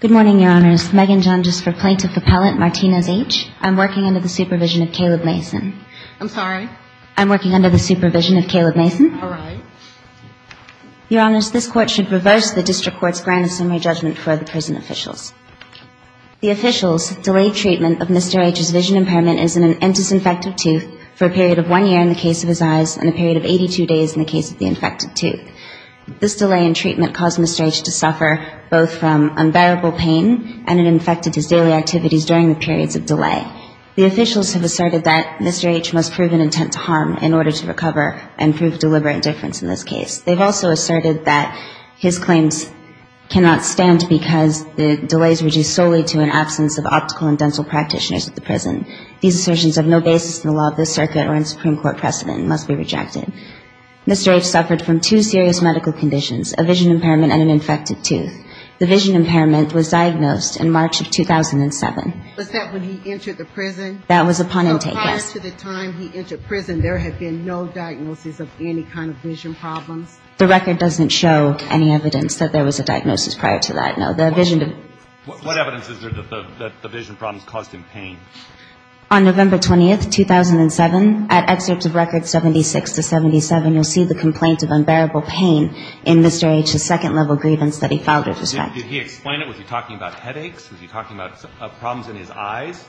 Good morning, Your Honors. Megan Jundges for Plaintiff Appellate Martinez H. I'm working under the supervision of Caleb Mason. I'm sorry? I'm working under the supervision of Caleb Mason. All right. Your Honors, this Court should reverse the District Court's grand assembly judgment for the prison officials. The officials' delayed treatment of Mr. Aytch's vision impairment is an endosynfective tooth for a period of one year in the case of his eyes and a period of 82 days in the case of the infected tooth. This delay in treatment caused Mr. Aytch to suffer both from unbearable pain and it infected his daily activities during the periods of delay. The officials have asserted that Mr. Aytch must prove an intent to harm in order to recover and prove deliberate indifference in this case. They've also asserted that his claims cannot stand because the delays were due solely to an absence of optical and dental practitioners at the prison. These assertions have no basis in the law of this circuit or in Supreme Court precedent and must be rejected. Mr. Aytch suffered from two serious medical conditions, a vision impairment and an infected tooth. The vision impairment was diagnosed in March of 2007. Was that when he entered the prison? That was upon intake, yes. So prior to the time he entered prison, there had been no diagnosis of any kind of vision problems? The record doesn't show any evidence that there was a diagnosis prior to that, no. The vision... What evidence is there that the vision problems caused him pain? On November 20th, 2007, at excerpts of records 76 to 77, you'll see the complaint of unbearable pain in Mr. Aytch's second-level grievance that he filed with respect to. Did he explain it? Was he talking about headaches? Was he talking about problems in his eyes?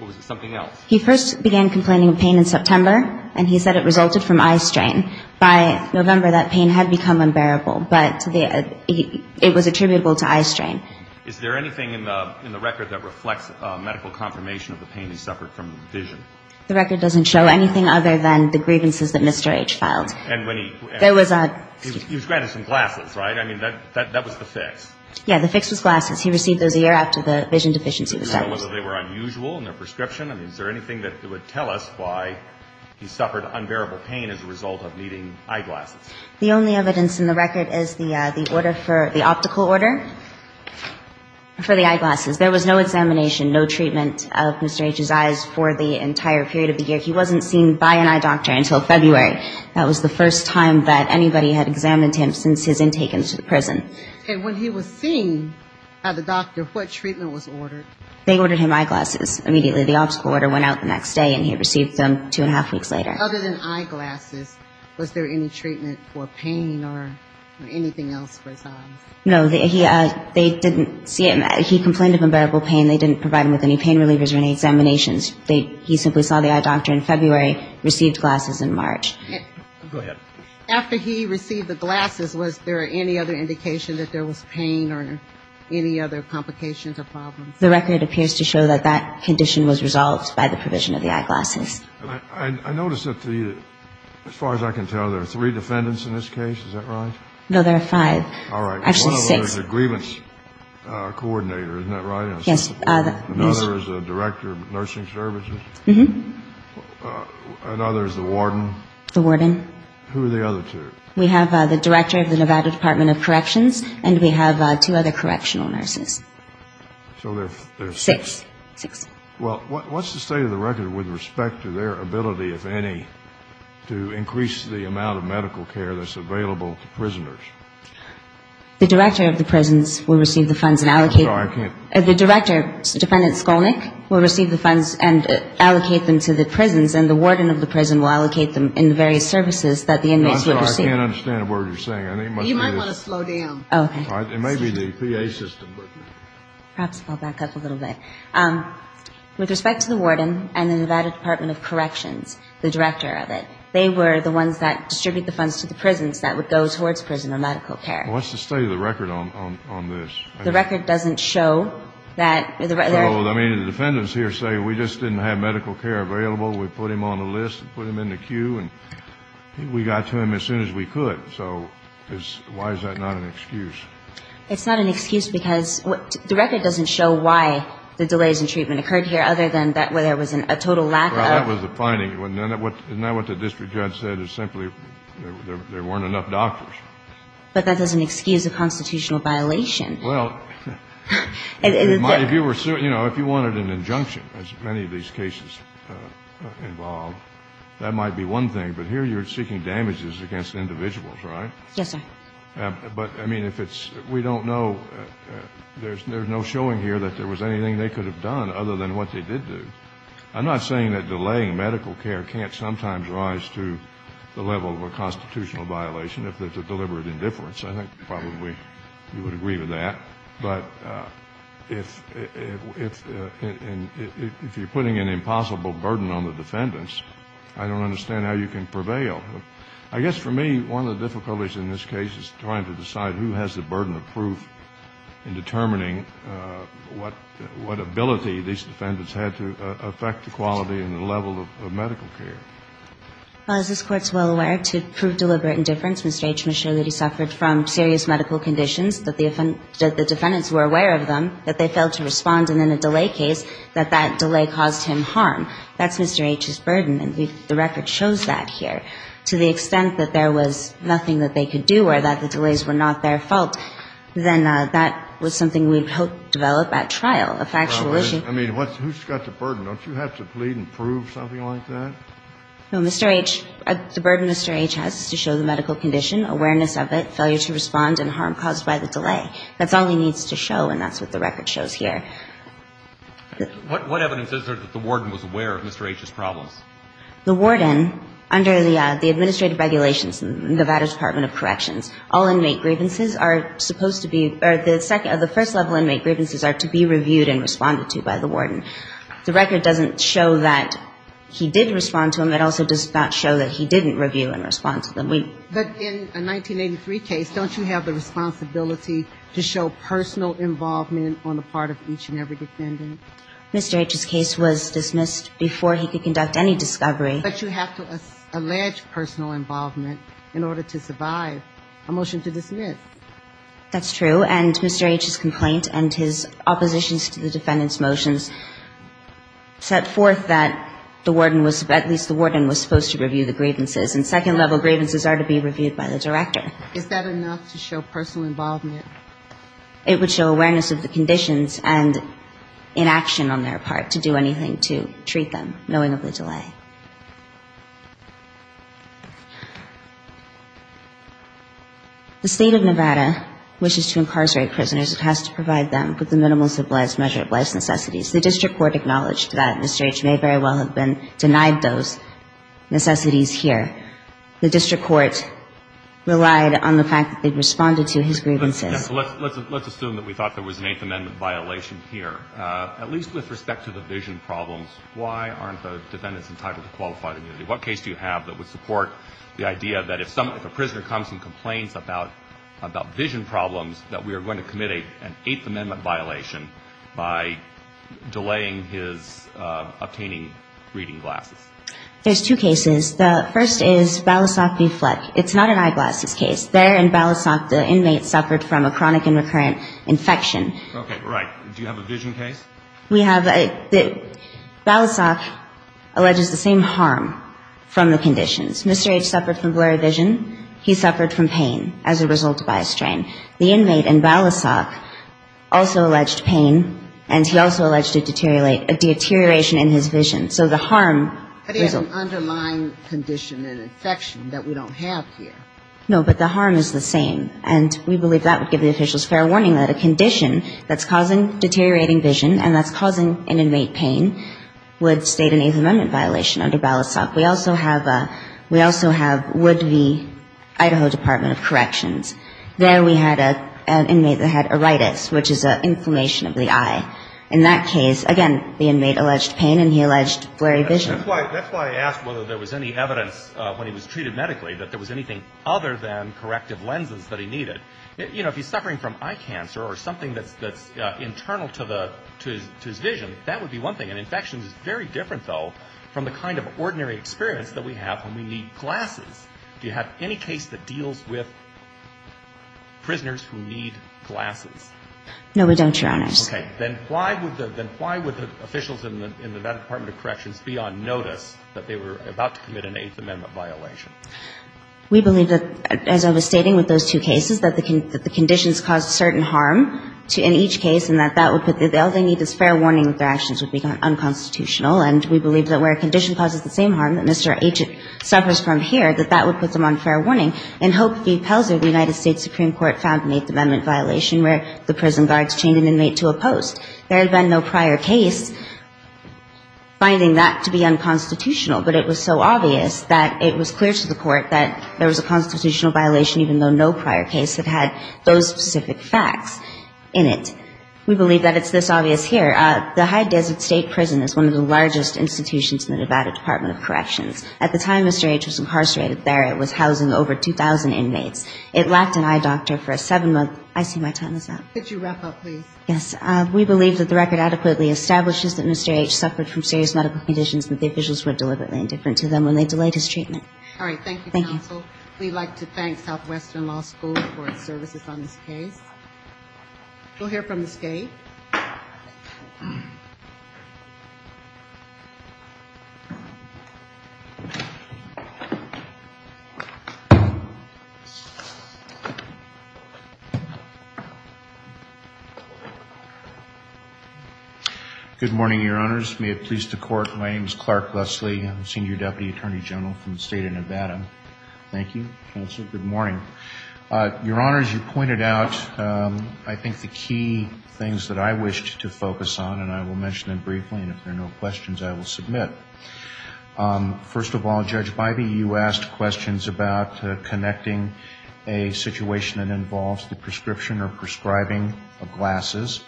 Or was it something else? He first began complaining of pain in September, and he said it resulted from eye strain. By November, that pain had become unbearable, but it was attributable to eye strain. Is there anything in the record that reflects medical confirmation of the pain he suffered from vision? The record doesn't show anything other than the grievances that Mr. Aytch filed. And when he... There was a... He was granted some glasses, right? I mean, that was the fix. Yeah, the fix was glasses. He received those a year after the vision deficiency was diagnosed. Did you know whether they were unusual in their prescription? I mean, is there anything that would tell us why he suffered unbearable pain as a result of needing eyeglasses? The only evidence in the record is the order for the optical order. For the eyeglasses. There was no examination, no treatment of Mr. Aytch's eyes for the entire period of the year. He wasn't seen by an eye doctor until February. That was the first time that anybody had examined him since his intake into the prison. And when he was seen by the doctor, what treatment was ordered? They ordered him eyeglasses immediately. The optical order went out the next day, and he received them two and a half weeks later. Other than eyeglasses, was there any treatment for pain or anything else for his eyes? No. They didn't see him. He complained of unbearable pain. They didn't provide him with any pain relievers or any examinations. He simply saw the eye doctor in February, received glasses in March. Go ahead. After he received the glasses, was there any other indication that there was pain or any other complications or problems? The record appears to show that that condition was resolved by the provision of the eyeglasses. I notice that, as far as I can tell, there are three defendants in this case. Is that right? No, there are five. All right. Actually, six. One of them is the grievance coordinator, isn't that right? Yes. Another is the director of nursing services? Mm-hmm. Another is the warden? The warden. Who are the other two? We have the director of the Nevada Department of Corrections, and we have two other correctional nurses. So there are six. Six. Well, what's the state of the record with respect to their ability, if any, to increase the amount of medical care that's available to prisoners? The director of the prisons will receive the funds and allocate them. No, I can't. The director, Defendant Skolnick, will receive the funds and allocate them to the prisons, and the warden of the prison will allocate them in the various services that the inmates will receive. No, I can't understand a word you're saying. You might want to slow down. Oh, okay. It may be the PA system. Perhaps I'll back up a little bit. With respect to the warden and the Nevada Department of Corrections, the director of it, they were the ones that distributed the funds to the prisons that would go towards prison, What's the state of the record on this? The record doesn't show that there are – Well, I mean, the defendants here say we just didn't have medical care available. We put him on a list and put him in the queue, and we got to him as soon as we could. So why is that not an excuse? It's not an excuse because the record doesn't show why the delays in treatment occurred here, other than that there was a total lack of – Well, that was the finding. Isn't that what the district judge said, is simply there weren't enough doctors? But that doesn't excuse a constitutional violation. Well, if you were – you know, if you wanted an injunction, as many of these cases involve, that might be one thing. But here you're seeking damages against individuals, right? Yes, sir. But, I mean, if it's – we don't know – there's no showing here that there was anything they could have done, other than what they did do. I'm not saying that delaying medical care can't sometimes rise to the level of a constitutional violation, if there's a deliberate indifference. I think probably you would agree with that. But if you're putting an impossible burden on the defendants, I don't understand how you can prevail. I guess for me, one of the difficulties in this case is trying to decide who has the burden of proof in determining what ability these defendants had to affect the quality and the level of medical care. Well, as this Court's well aware, to prove deliberate indifference, Mr. H. McShirley suffered from serious medical conditions that the defendants were aware of them, that they failed to respond, and in a delay case, that that delay caused him harm. That's Mr. H.'s burden, and the record shows that here. To the extent that there was nothing that they could do or that the delays were not their fault, then that was something we'd hope develop at trial, a factual issue. I mean, who's got the burden? Don't you have to plead and prove something like that? No. Mr. H. The burden Mr. H. has is to show the medical condition, awareness of it, failure to respond, and harm caused by the delay. That's all he needs to show, and that's what the record shows here. What evidence is there that the warden was aware of Mr. H.'s problems? The warden, under the administrative regulations in the Nevada Department of Corrections, all inmate grievances are supposed to be or the first level inmate grievances are to be reviewed and responded to by the warden. The record doesn't show that he did respond to them. It also does not show that he didn't review and respond to them. But in a 1983 case, don't you have the responsibility to show personal involvement on the part of each and every defendant? Mr. H.'s case was dismissed before he could conduct any discovery. But you have to allege personal involvement in order to survive. A motion to dismiss. That's true, and Mr. H.'s complaint and his oppositions to the defendant's motions set forth that the warden was at least the warden was supposed to review the grievances, and second level grievances are to be reviewed by the director. Is that enough to show personal involvement? It would show awareness of the conditions and inaction on their part to do anything to treat them, knowing of the delay. The state of Nevada wishes to incarcerate prisoners. It has to provide them with the minimal supplies measure of life's necessities. The district court acknowledged that Mr. H. may very well have been denied those necessities here. The district court relied on the fact that they responded to his grievances. Let's assume that we thought there was an Eighth Amendment violation here. At least with respect to the vision problems, why aren't the defendants entitled to qualified immunity? What case do you have that would support the idea that if a prisoner comes and complains about vision problems, that we are going to commit an Eighth Amendment violation by delaying his obtaining reading glasses? There's two cases. The first is Balisok v. Fleck. It's not an eyeglasses case. There in Balisok, the inmate suffered from a chronic and recurrent infection. Okay. Right. Do you have a vision case? We have a Balisok alleges the same harm from the conditions. Mr. H. suffered from blurry vision. He suffered from pain as a result of eye strain. The inmate in Balisok also alleged pain, and he also alleged a deterioration in his vision. So the harm was a – But he had an underlying condition, an infection that we don't have here. No, but the harm is the same. And we believe that would give the officials fair warning that a condition that's causing deteriorating vision and that's causing an inmate pain would state an Eighth Amendment violation under Balisok. We also have a – we also have Wood v. Idaho Department of Corrections. There we had an inmate that had aoritis, which is an inflammation of the eye. In that case, again, the inmate alleged pain, and he alleged blurry vision. That's why I asked whether there was any evidence when he was treated medically that there was anything other than corrective lenses that he needed. You know, if he's suffering from eye cancer or something that's internal to the – to his vision, that would be one thing. An infection is very different, though, from the kind of ordinary experience that we have when we need glasses. Do you have any case that deals with prisoners who need glasses? No, we don't, Your Honors. Okay. Then why would the – then why would the officials in the – in the Department of Corrections be on notice that they were about to commit an Eighth Amendment violation? We believe that, as I was stating with those two cases, that the conditions caused certain harm to – in each case, and that that would put the – all they need is fair warning that their actions would be unconstitutional. And we believe that where a condition causes the same harm that Mr. H suffers from here, that that would put them on fair warning. In Hope v. Pelzer, the United States Supreme Court found an Eighth Amendment violation where the prison guards chained an inmate to a post. There had been no prior case finding that to be unconstitutional. But it was so obvious that it was clear to the court that there was a constitutional violation, even though no prior case had had those specific facts in it. We believe that it's this obvious here. The High Desert State Prison is one of the largest institutions in the Nevada Department of Corrections. At the time Mr. H was incarcerated there, it was housing over 2,000 inmates. It lacked an eye doctor for a seven-month – I see my time is up. Could you wrap up, please? Yes. We believe that the record adequately establishes that Mr. H suffered from serious medical conditions that the officials were deliberately indifferent to them when they delayed his treatment. All right. Thank you, counsel. Thank you. We'd like to thank Southwestern Law School for its services on this case. We'll hear from Ms. Gay. Good morning, Your Honors. May it please the Court, my name is Clark Leslie. I'm Senior Deputy Attorney General for the State of Nevada. Thank you, counsel. Good morning. Your Honor, as you pointed out, I think the key things that I wished to focus on, and I will mention them briefly, and if there are no questions, I will submit. First of all, Judge Bivey, you asked questions about connecting a situation that involves the prescription or prescribing of glasses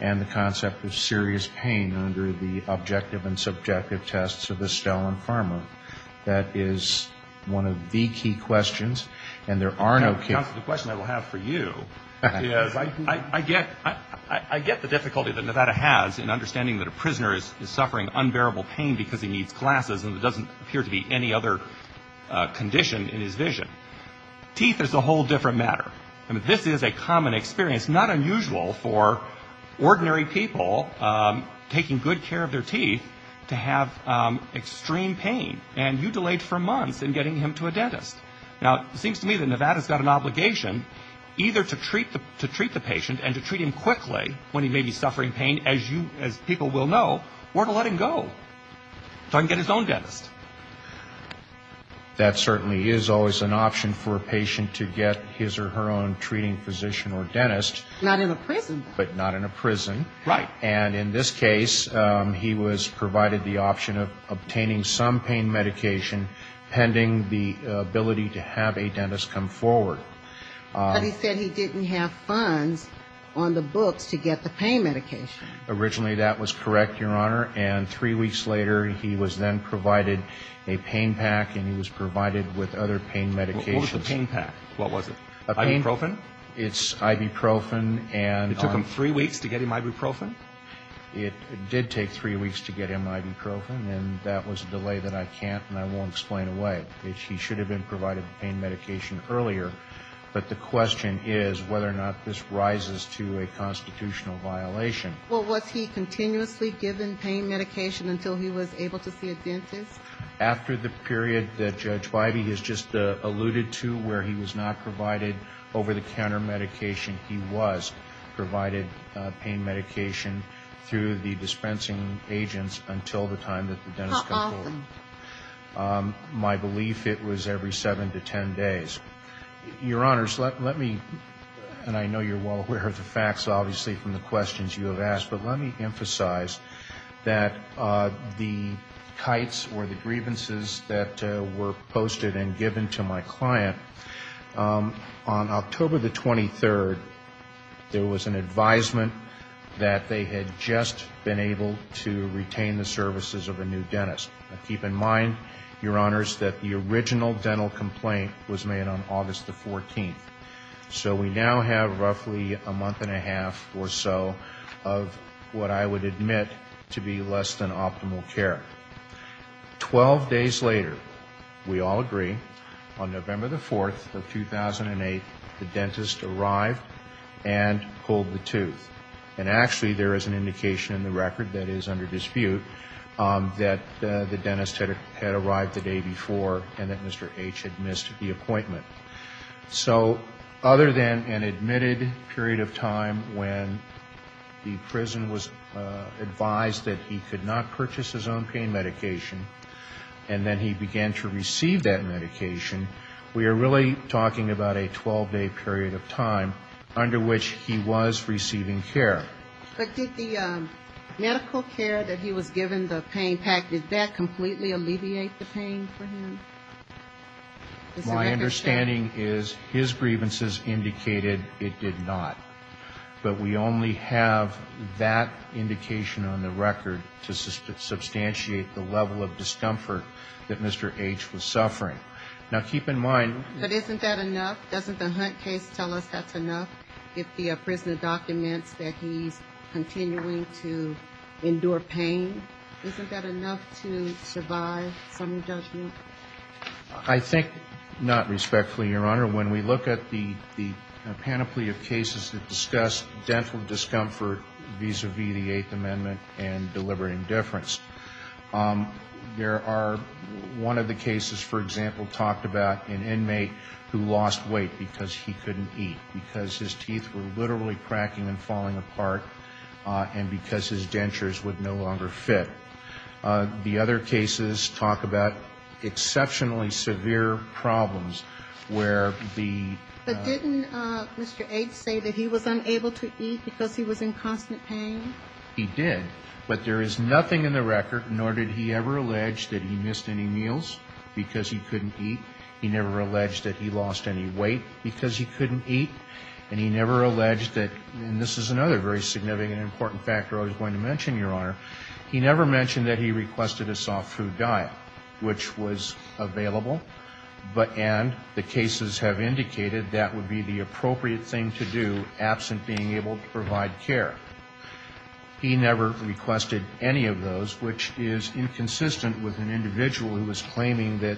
and the concept of serious pain under the objective and subjective tests of the Stalin Pharma. That is one of the key questions. And there are no questions. Counsel, the question I will have for you is I get the difficulty that Nevada has in understanding that a prisoner is suffering unbearable pain because he needs glasses and there doesn't appear to be any other condition in his vision. Teeth is a whole different matter. This is a common experience, not unusual for ordinary people taking good care of their teeth to have extreme pain. And you delayed for months in getting him to a dentist. Now, it seems to me that Nevada's got an obligation either to treat the patient and to treat him quickly when he may be suffering pain, as people will know, or to let him go so he can get his own dentist. That certainly is always an option for a patient to get his or her own treating physician or dentist. Not in a prison. But not in a prison. Right. And in this case, he was provided the option of obtaining some pain medication pending the ability to have a dentist come forward. But he said he didn't have funds on the books to get the pain medication. Originally, that was correct, Your Honor. And three weeks later, he was then provided a pain pack, and he was provided with other pain medications. What was the pain pack? What was it? Ibuprofen? It's ibuprofen. It took him three weeks to get him ibuprofen? It did take three weeks to get him ibuprofen, and that was a delay that I can't and I won't explain away. He should have been provided the pain medication earlier. But the question is whether or not this rises to a constitutional violation. Well, was he continuously given pain medication until he was able to see a dentist? After the period that Judge Bybee has just alluded to where he was not provided over-the-counter medication, he was provided pain medication through the dispensing agents until the time that the dentist came forward. How often? My belief, it was every seven to ten days. Your Honors, let me, and I know you're well aware of the facts, obviously, from the questions you have asked, but let me emphasize that the kites or the grievances that were posted and given to my client, on October the 23rd, there was an advisement that they had just been able to retain the services of a new dentist. Now, keep in mind, Your Honors, that the original dental complaint was made on August the 14th. So we now have roughly a month and a half or so of what I would admit to be less than optimal care. Twelve days later, we all agree, on November the 4th of 2008, the dentist arrived and pulled the tooth. And actually, there is an indication in the record that is under dispute that the dentist had arrived the day before and that Mr. H had missed the appointment. So other than an admitted period of time when the prison was advised that he could not purchase his own pain medication, and then he began to receive that medication, we are really talking about a 12-day period of time under which he was receiving care. But did the medical care that he was given, the pain pack, did that completely alleviate the pain for him? My understanding is his grievances indicated it did not. But we only have that indication on the record to substantiate the level of discomfort that Mr. H was suffering. Now, keep in mind... But isn't that enough? Doesn't the Hunt case tell us that's enough? If the prisoner documents that he's continuing to endure pain, isn't that enough to survive some judgment? I think not respectfully, Your Honor. When we look at the panoply of cases that discuss dental discomfort vis-à-vis the Eighth Amendment and deliberate indifference, there are one of the cases, for example, talked about an inmate who lost weight because he couldn't eat, because his teeth were literally cracking and falling apart, and because his dentures would no longer fit. The other cases talk about exceptionally severe problems where the... But didn't Mr. H say that he was unable to eat because he was in constant pain? He did. But there is nothing in the record, nor did he ever allege that he missed any meals because he couldn't eat. He never alleged that he lost any weight because he couldn't eat. And he never alleged that, and this is another very significant and important factor I was going to mention, Your Honor, he never mentioned that he requested a soft food diet, which was available, and the cases have indicated that would be the appropriate thing to do, absent being able to provide care. He never requested any of those, which is inconsistent with an individual who is claiming that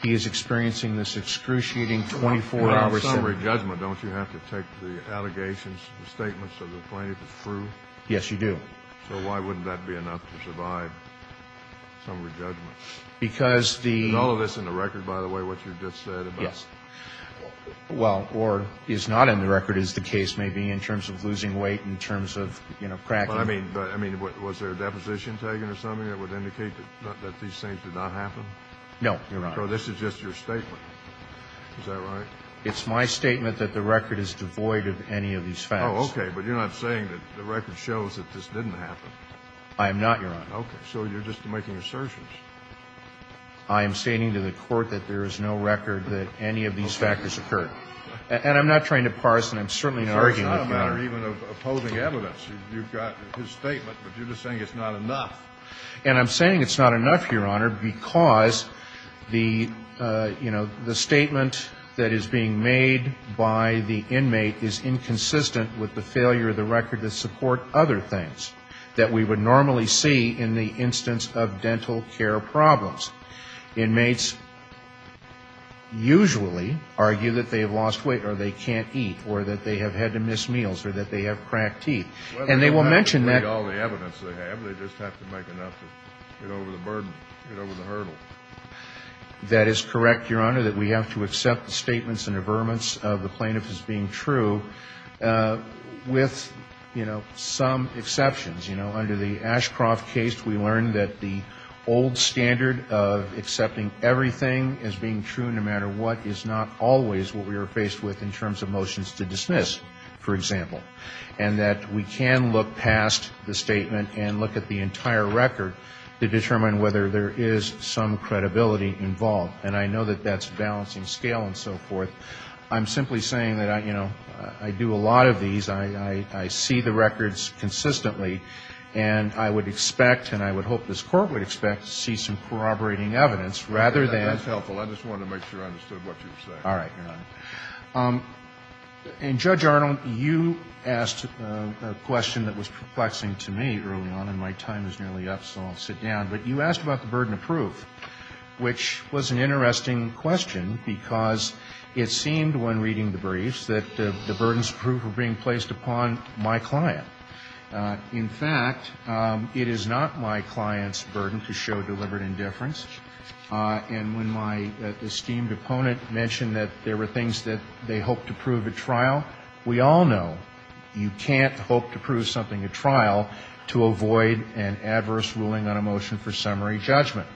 he is experiencing this excruciating 24-hour... Well, for summary judgment, don't you have to take the allegations, the statements of the plaintiff as true? Yes, you do. So why wouldn't that be enough to survive summary judgment? Because the... Is all of this in the record, by the way, what you just said about... Yes. Well, or is not in the record, as the case may be, in terms of losing weight, in terms of, you know, cracking... I mean, was there a deposition taken or something that would indicate that these things did not happen? No, Your Honor. So this is just your statement. Is that right? It's my statement that the record is devoid of any of these facts. Oh, okay. But you're not saying that the record shows that this didn't happen. I am not, Your Honor. Okay. So you're just making assertions. I am stating to the Court that there is no record that any of these factors occurred. And I'm not trying to parse, and I'm certainly not arguing with you, Your Honor. So it's not a matter even of opposing evidence. You've got his statement, but you're just saying it's not enough. And I'm saying it's not enough, Your Honor, because the, you know, the statement that is being made by the inmate is inconsistent with the failure of the record that support other things that we would normally see in the instance of dental care problems. Inmates usually argue that they have lost weight or they can't eat or that they have had to miss meals or that they have cracked teeth. Well, they don't have to make all the evidence they have. They just have to make enough to get over the burden, get over the hurdle. That is correct, Your Honor, that we have to accept the statements and averments of the plaintiff as being true with, you know, some exceptions. You know, under the Ashcroft case, we learned that the old standard of accepting everything as being true no matter what is not always what we are faced with in terms of motions to dismiss, for example. And that we can look past the statement and look at the entire record to determine whether there is some credibility involved. And I know that that's balancing scale and so forth. I'm simply saying that, you know, I do a lot of these. I see the records consistently. And I would expect, and I would hope this Court would expect, to see some corroborating evidence rather than. That's helpful. I just wanted to make sure I understood what you were saying. All right, Your Honor. And, Judge Arnold, you asked a question that was perplexing to me early on, and my time is nearly up, so I'll sit down. But you asked about the burden of proof, which was an interesting question, because it seemed when reading the briefs that the burdens of proof were being placed upon my client. In fact, it is not my client's burden to show deliberate indifference. And when my esteemed opponent mentioned that there were things that they hoped to prove at trial, we all know you can't hope to prove something at trial to avoid an adverse ruling on a motion for summary judgment.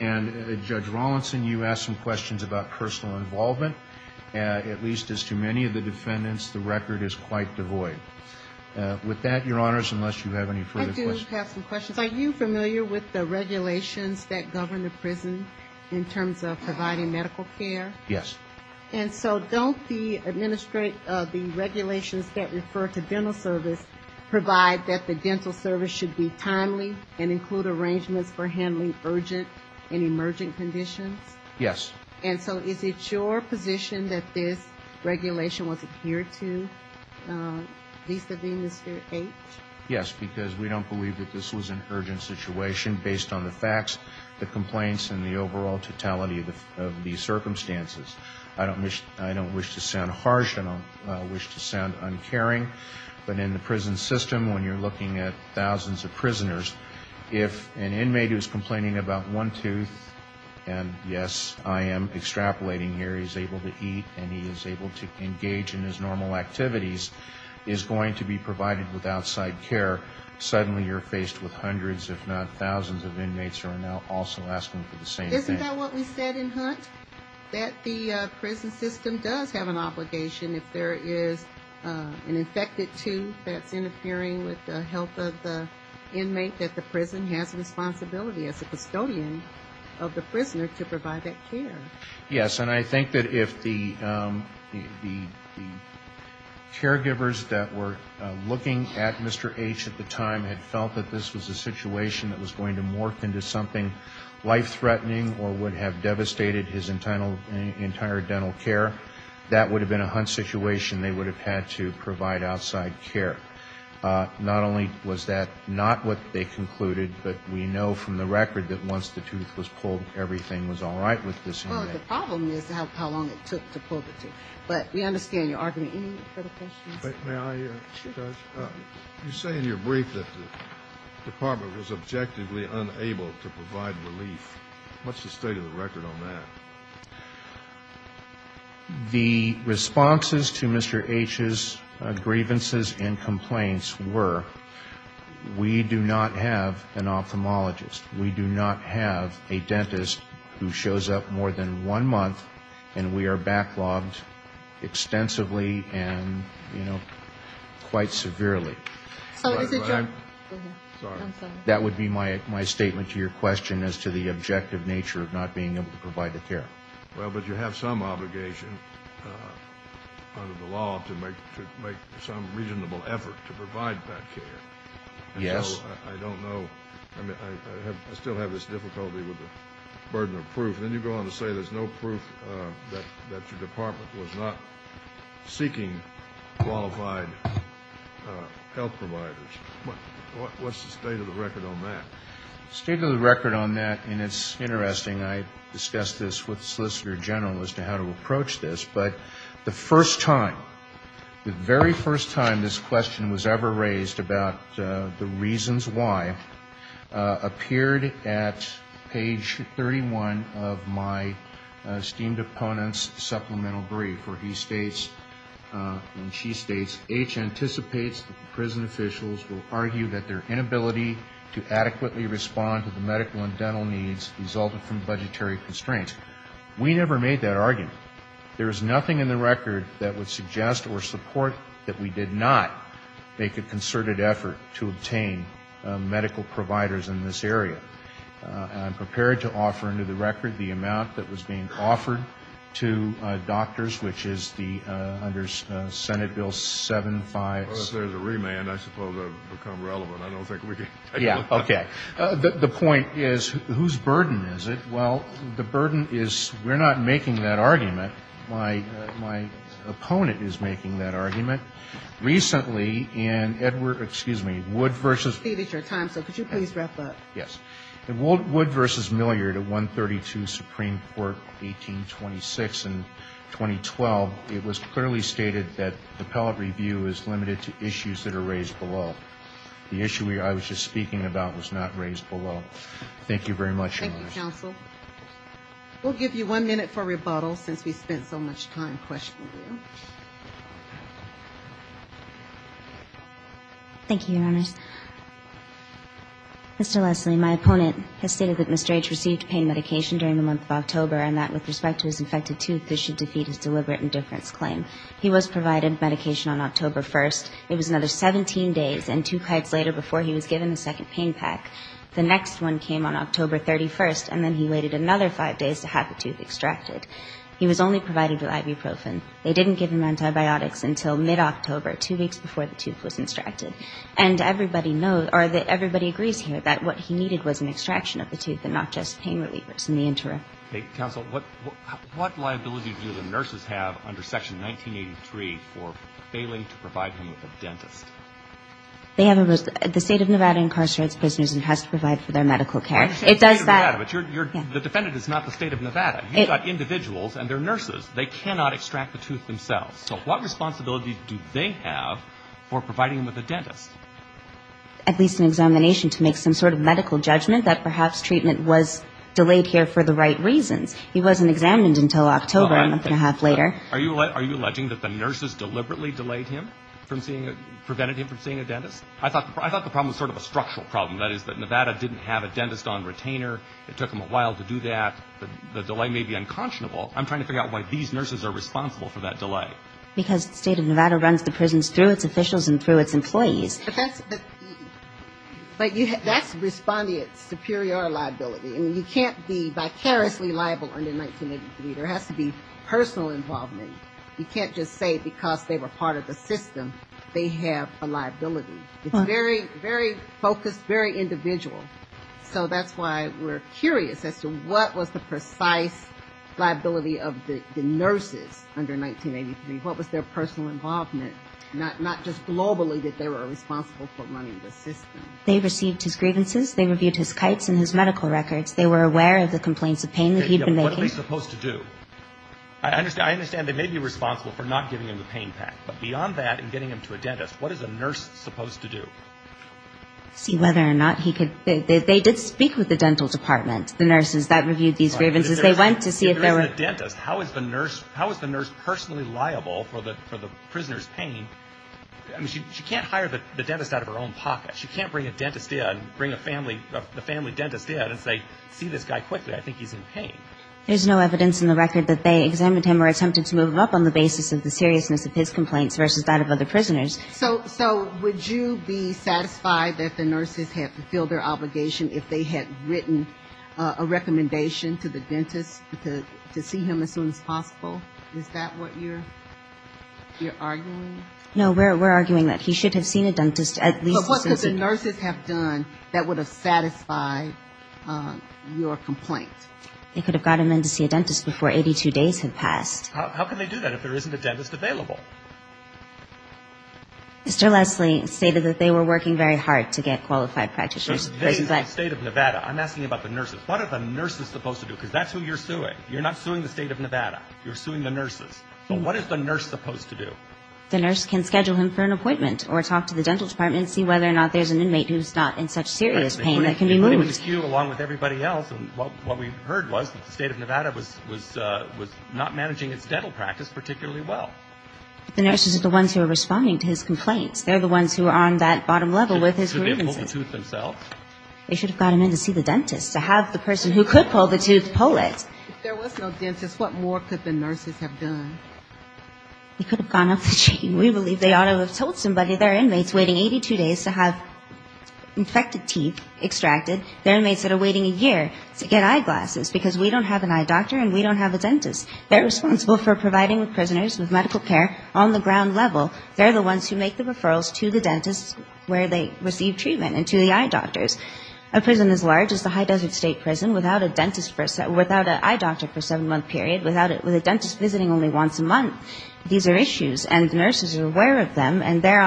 And, Judge Rawlinson, you asked some questions about personal involvement. At least as to many of the defendants, the record is quite devoid. With that, Your Honors, unless you have any further questions. I do have some questions. Are you familiar with the regulations that govern the prison in terms of providing medical care? Yes. And so don't the regulations that refer to dental service provide that the dental service should be timely and include arrangements for handling urgent and emergent conditions? Yes. And so is it your position that this regulation was adhered to, vis-à-vis Mr. H.? Yes, because we don't believe that this was an urgent situation based on the facts, the complaints, and the overall totality of these circumstances. I don't wish to sound harsh. I don't wish to sound uncaring. But in the prison system, when you're looking at thousands of prisoners, if an inmate who's complaining about one tooth, and yes, I am extrapolating here, is able to eat and he is able to engage in his normal activities, is going to be provided with outside care, suddenly you're faced with hundreds, if not thousands, of inmates who are now also asking for the same thing. Isn't that what we said in Hunt, that the prison system does have an obligation if there is an infected tooth that's interfering with the health of the inmate, that the prison has a responsibility as a custodian of the prisoner to provide that care? Yes, and I think that if the caregivers that were looking at Mr. H. at the time had felt that this was a situation that was going to morph into something life-threatening or would have devastated his entire dental care, that would have been a Hunt situation. They would have had to provide outside care. Not only was that not what they concluded, but we know from the record that once the tooth was pulled, everything was all right with this inmate. Well, the problem is how long it took to pull the tooth. But we understand your argument. Any further questions? May I, Judge? Sure. You say in your brief that the Department was objectively unable to provide relief. What's the state of the record on that? The responses to Mr. H.'s grievances and complaints were we do not have an ophthalmologist. We do not have a dentist who shows up more than one month, and we are backlogged extensively and, you know, quite severely. So is it your ---- Go ahead. I'm sorry. That would be my statement to your question as to the objective nature of not being able to provide the care. Well, but you have some obligation under the law to make some reasonable effort to provide that care. Yes. I don't know. I mean, I still have this difficulty with the burden of proof. Then you go on to say there's no proof that your Department was not seeking qualified health providers. What's the state of the record on that? State of the record on that, and it's interesting. I discussed this with the Solicitor General as to how to approach this, but the first time, the very first time this question was ever raised about the reasons why, appeared at page 31 of my esteemed opponent's supplemental brief where he states and she states, H. anticipates that the prison officials will argue that their inability to adequately respond to the medical and dental needs resulted from budgetary constraints. We never made that argument. There is nothing in the record that would suggest or support that we did not make a concerted effort to obtain medical providers in this area. I'm prepared to offer under the record the amount that was being offered to doctors, which is under Senate Bill 757. Well, if there's a remand, I suppose that would become relevant. I don't think we can ---- Yeah, okay. The point is whose burden is it? Well, the burden is we're not making that argument. My opponent is making that argument. Recently in Edward, excuse me, Wood versus ---- I believe it's your time, so could you please wrap up? Yes. In Wood v. Milliard at 132 Supreme Court, 1826 and 2012, it was clearly stated that the appellate review is limited to issues that are raised below. The issue I was just speaking about was not raised below. Thank you very much, Your Honor. Thank you, counsel. We'll give you one minute for rebuttal since we spent so much time questioning you. Thank you, Your Honors. Mr. Leslie, my opponent has stated that Mr. H received pain medication during the month of October and that with respect to his infected tooth, this should defeat his deliberate indifference claim. He was provided medication on October 1st. It was another 17 days and two nights later before he was given a second pain pack. The next one came on October 31st, and then he waited another five days to have the tooth extracted. He was only provided with ibuprofen. They didn't give him antibiotics until mid-October, two weeks before the tooth was extracted. And everybody knows or everybody agrees here that what he needed was an extraction of the tooth and not just pain relievers in the interim. Counsel, what liability do the nurses have under Section 1983 for failing to provide him with a dentist? The State of Nevada incarcerates prisoners and has to provide for their medical care. It does that. The State of Nevada, but the defendant is not the State of Nevada. You've got individuals and they're nurses. They cannot extract the tooth themselves. So what responsibility do they have for providing him with a dentist? At least an examination to make some sort of medical judgment that perhaps treatment was delayed here for the right reasons. He wasn't examined until October, a month and a half later. Are you alleging that the nurses deliberately delayed him from seeing, prevented him from seeing a dentist? I thought the problem was sort of a structural problem. That is that Nevada didn't have a dentist on retainer. It took them a while to do that. The delay may be unconscionable. I'm trying to figure out why these nurses are responsible for that delay. Because the State of Nevada runs the prisons through its officials and through its employees. But that's respondent superior liability. I mean, you can't be vicariously liable under 1983. There has to be personal involvement. You can't just say because they were part of the system they have a liability. It's very, very focused, very individual. So that's why we're curious as to what was the precise liability of the nurses under 1983. What was their personal involvement? Not just globally, that they were responsible for running the system. They received his grievances. They reviewed his kites and his medical records. They were aware of the complaints of pain that he had been making. What are they supposed to do? I understand they may be responsible for not giving him the pain pack. But beyond that and getting him to a dentist, what is a nurse supposed to do? See whether or not he could. They did speak with the dental department, the nurses that reviewed these grievances. They went to see if there were. Even a dentist, how is the nurse personally liable for the prisoner's pain? I mean, she can't hire the dentist out of her own pocket. She can't bring a dentist in, bring the family dentist in and say, see this guy quickly, I think he's in pain. There's no evidence in the record that they examined him or attempted to move him up on the basis of the seriousness of his complaints versus that of other prisoners. So would you be satisfied that the nurses had fulfilled their obligation if they had written a recommendation to the dentist to see him as soon as possible? Is that what you're arguing? No, we're arguing that he should have seen a dentist at least. But what could the nurses have done that would have satisfied your complaint? They could have got him in to see a dentist before 82 days had passed. How can they do that if there isn't a dentist available? Mr. Leslie stated that they were working very hard to get qualified practitioners. I'm asking you about the nurses. What are the nurses supposed to do? Because that's who you're suing. You're not suing the state of Nevada. You're suing the nurses. So what is the nurse supposed to do? The nurse can schedule him for an appointment or talk to the dental department and see whether or not there's an inmate who's not in such serious pain that can be moved. Along with everybody else, what we heard was that the state of Nevada was not managing its dental practice particularly well. The nurses are the ones who are responding to his complaints. They're the ones who are on that bottom level with his grievances. Could they have pulled the tooth themselves? They should have got him in to see the dentist to have the person who could pull the tooth pull it. If there was no dentist, what more could the nurses have done? They could have gone up the chain. We believe they ought to have told somebody their inmates waiting 82 days to have infected teeth extracted, their inmates that are waiting a year to get eyeglasses because we don't have an eye doctor and we don't have a dentist. They're responsible for providing the prisoners with medical care on the ground level. They're the ones who make the referrals to the dentists where they receive treatment and to the eye doctors. A prison as large as the High Desert State Prison without an eye doctor for a seven-month period, with a dentist visiting only once a month, these are issues. And the nurses are aware of them, and they're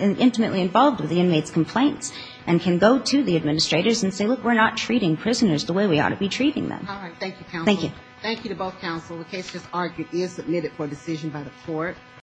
intimately involved with the inmates' complaints and can go to the administrators and say, look, we're not treating prisoners the way we ought to be treating them. Thank you, counsel. Thank you. Thank you to both counsel. The case just argued is submitted for decision by the court. Thank you.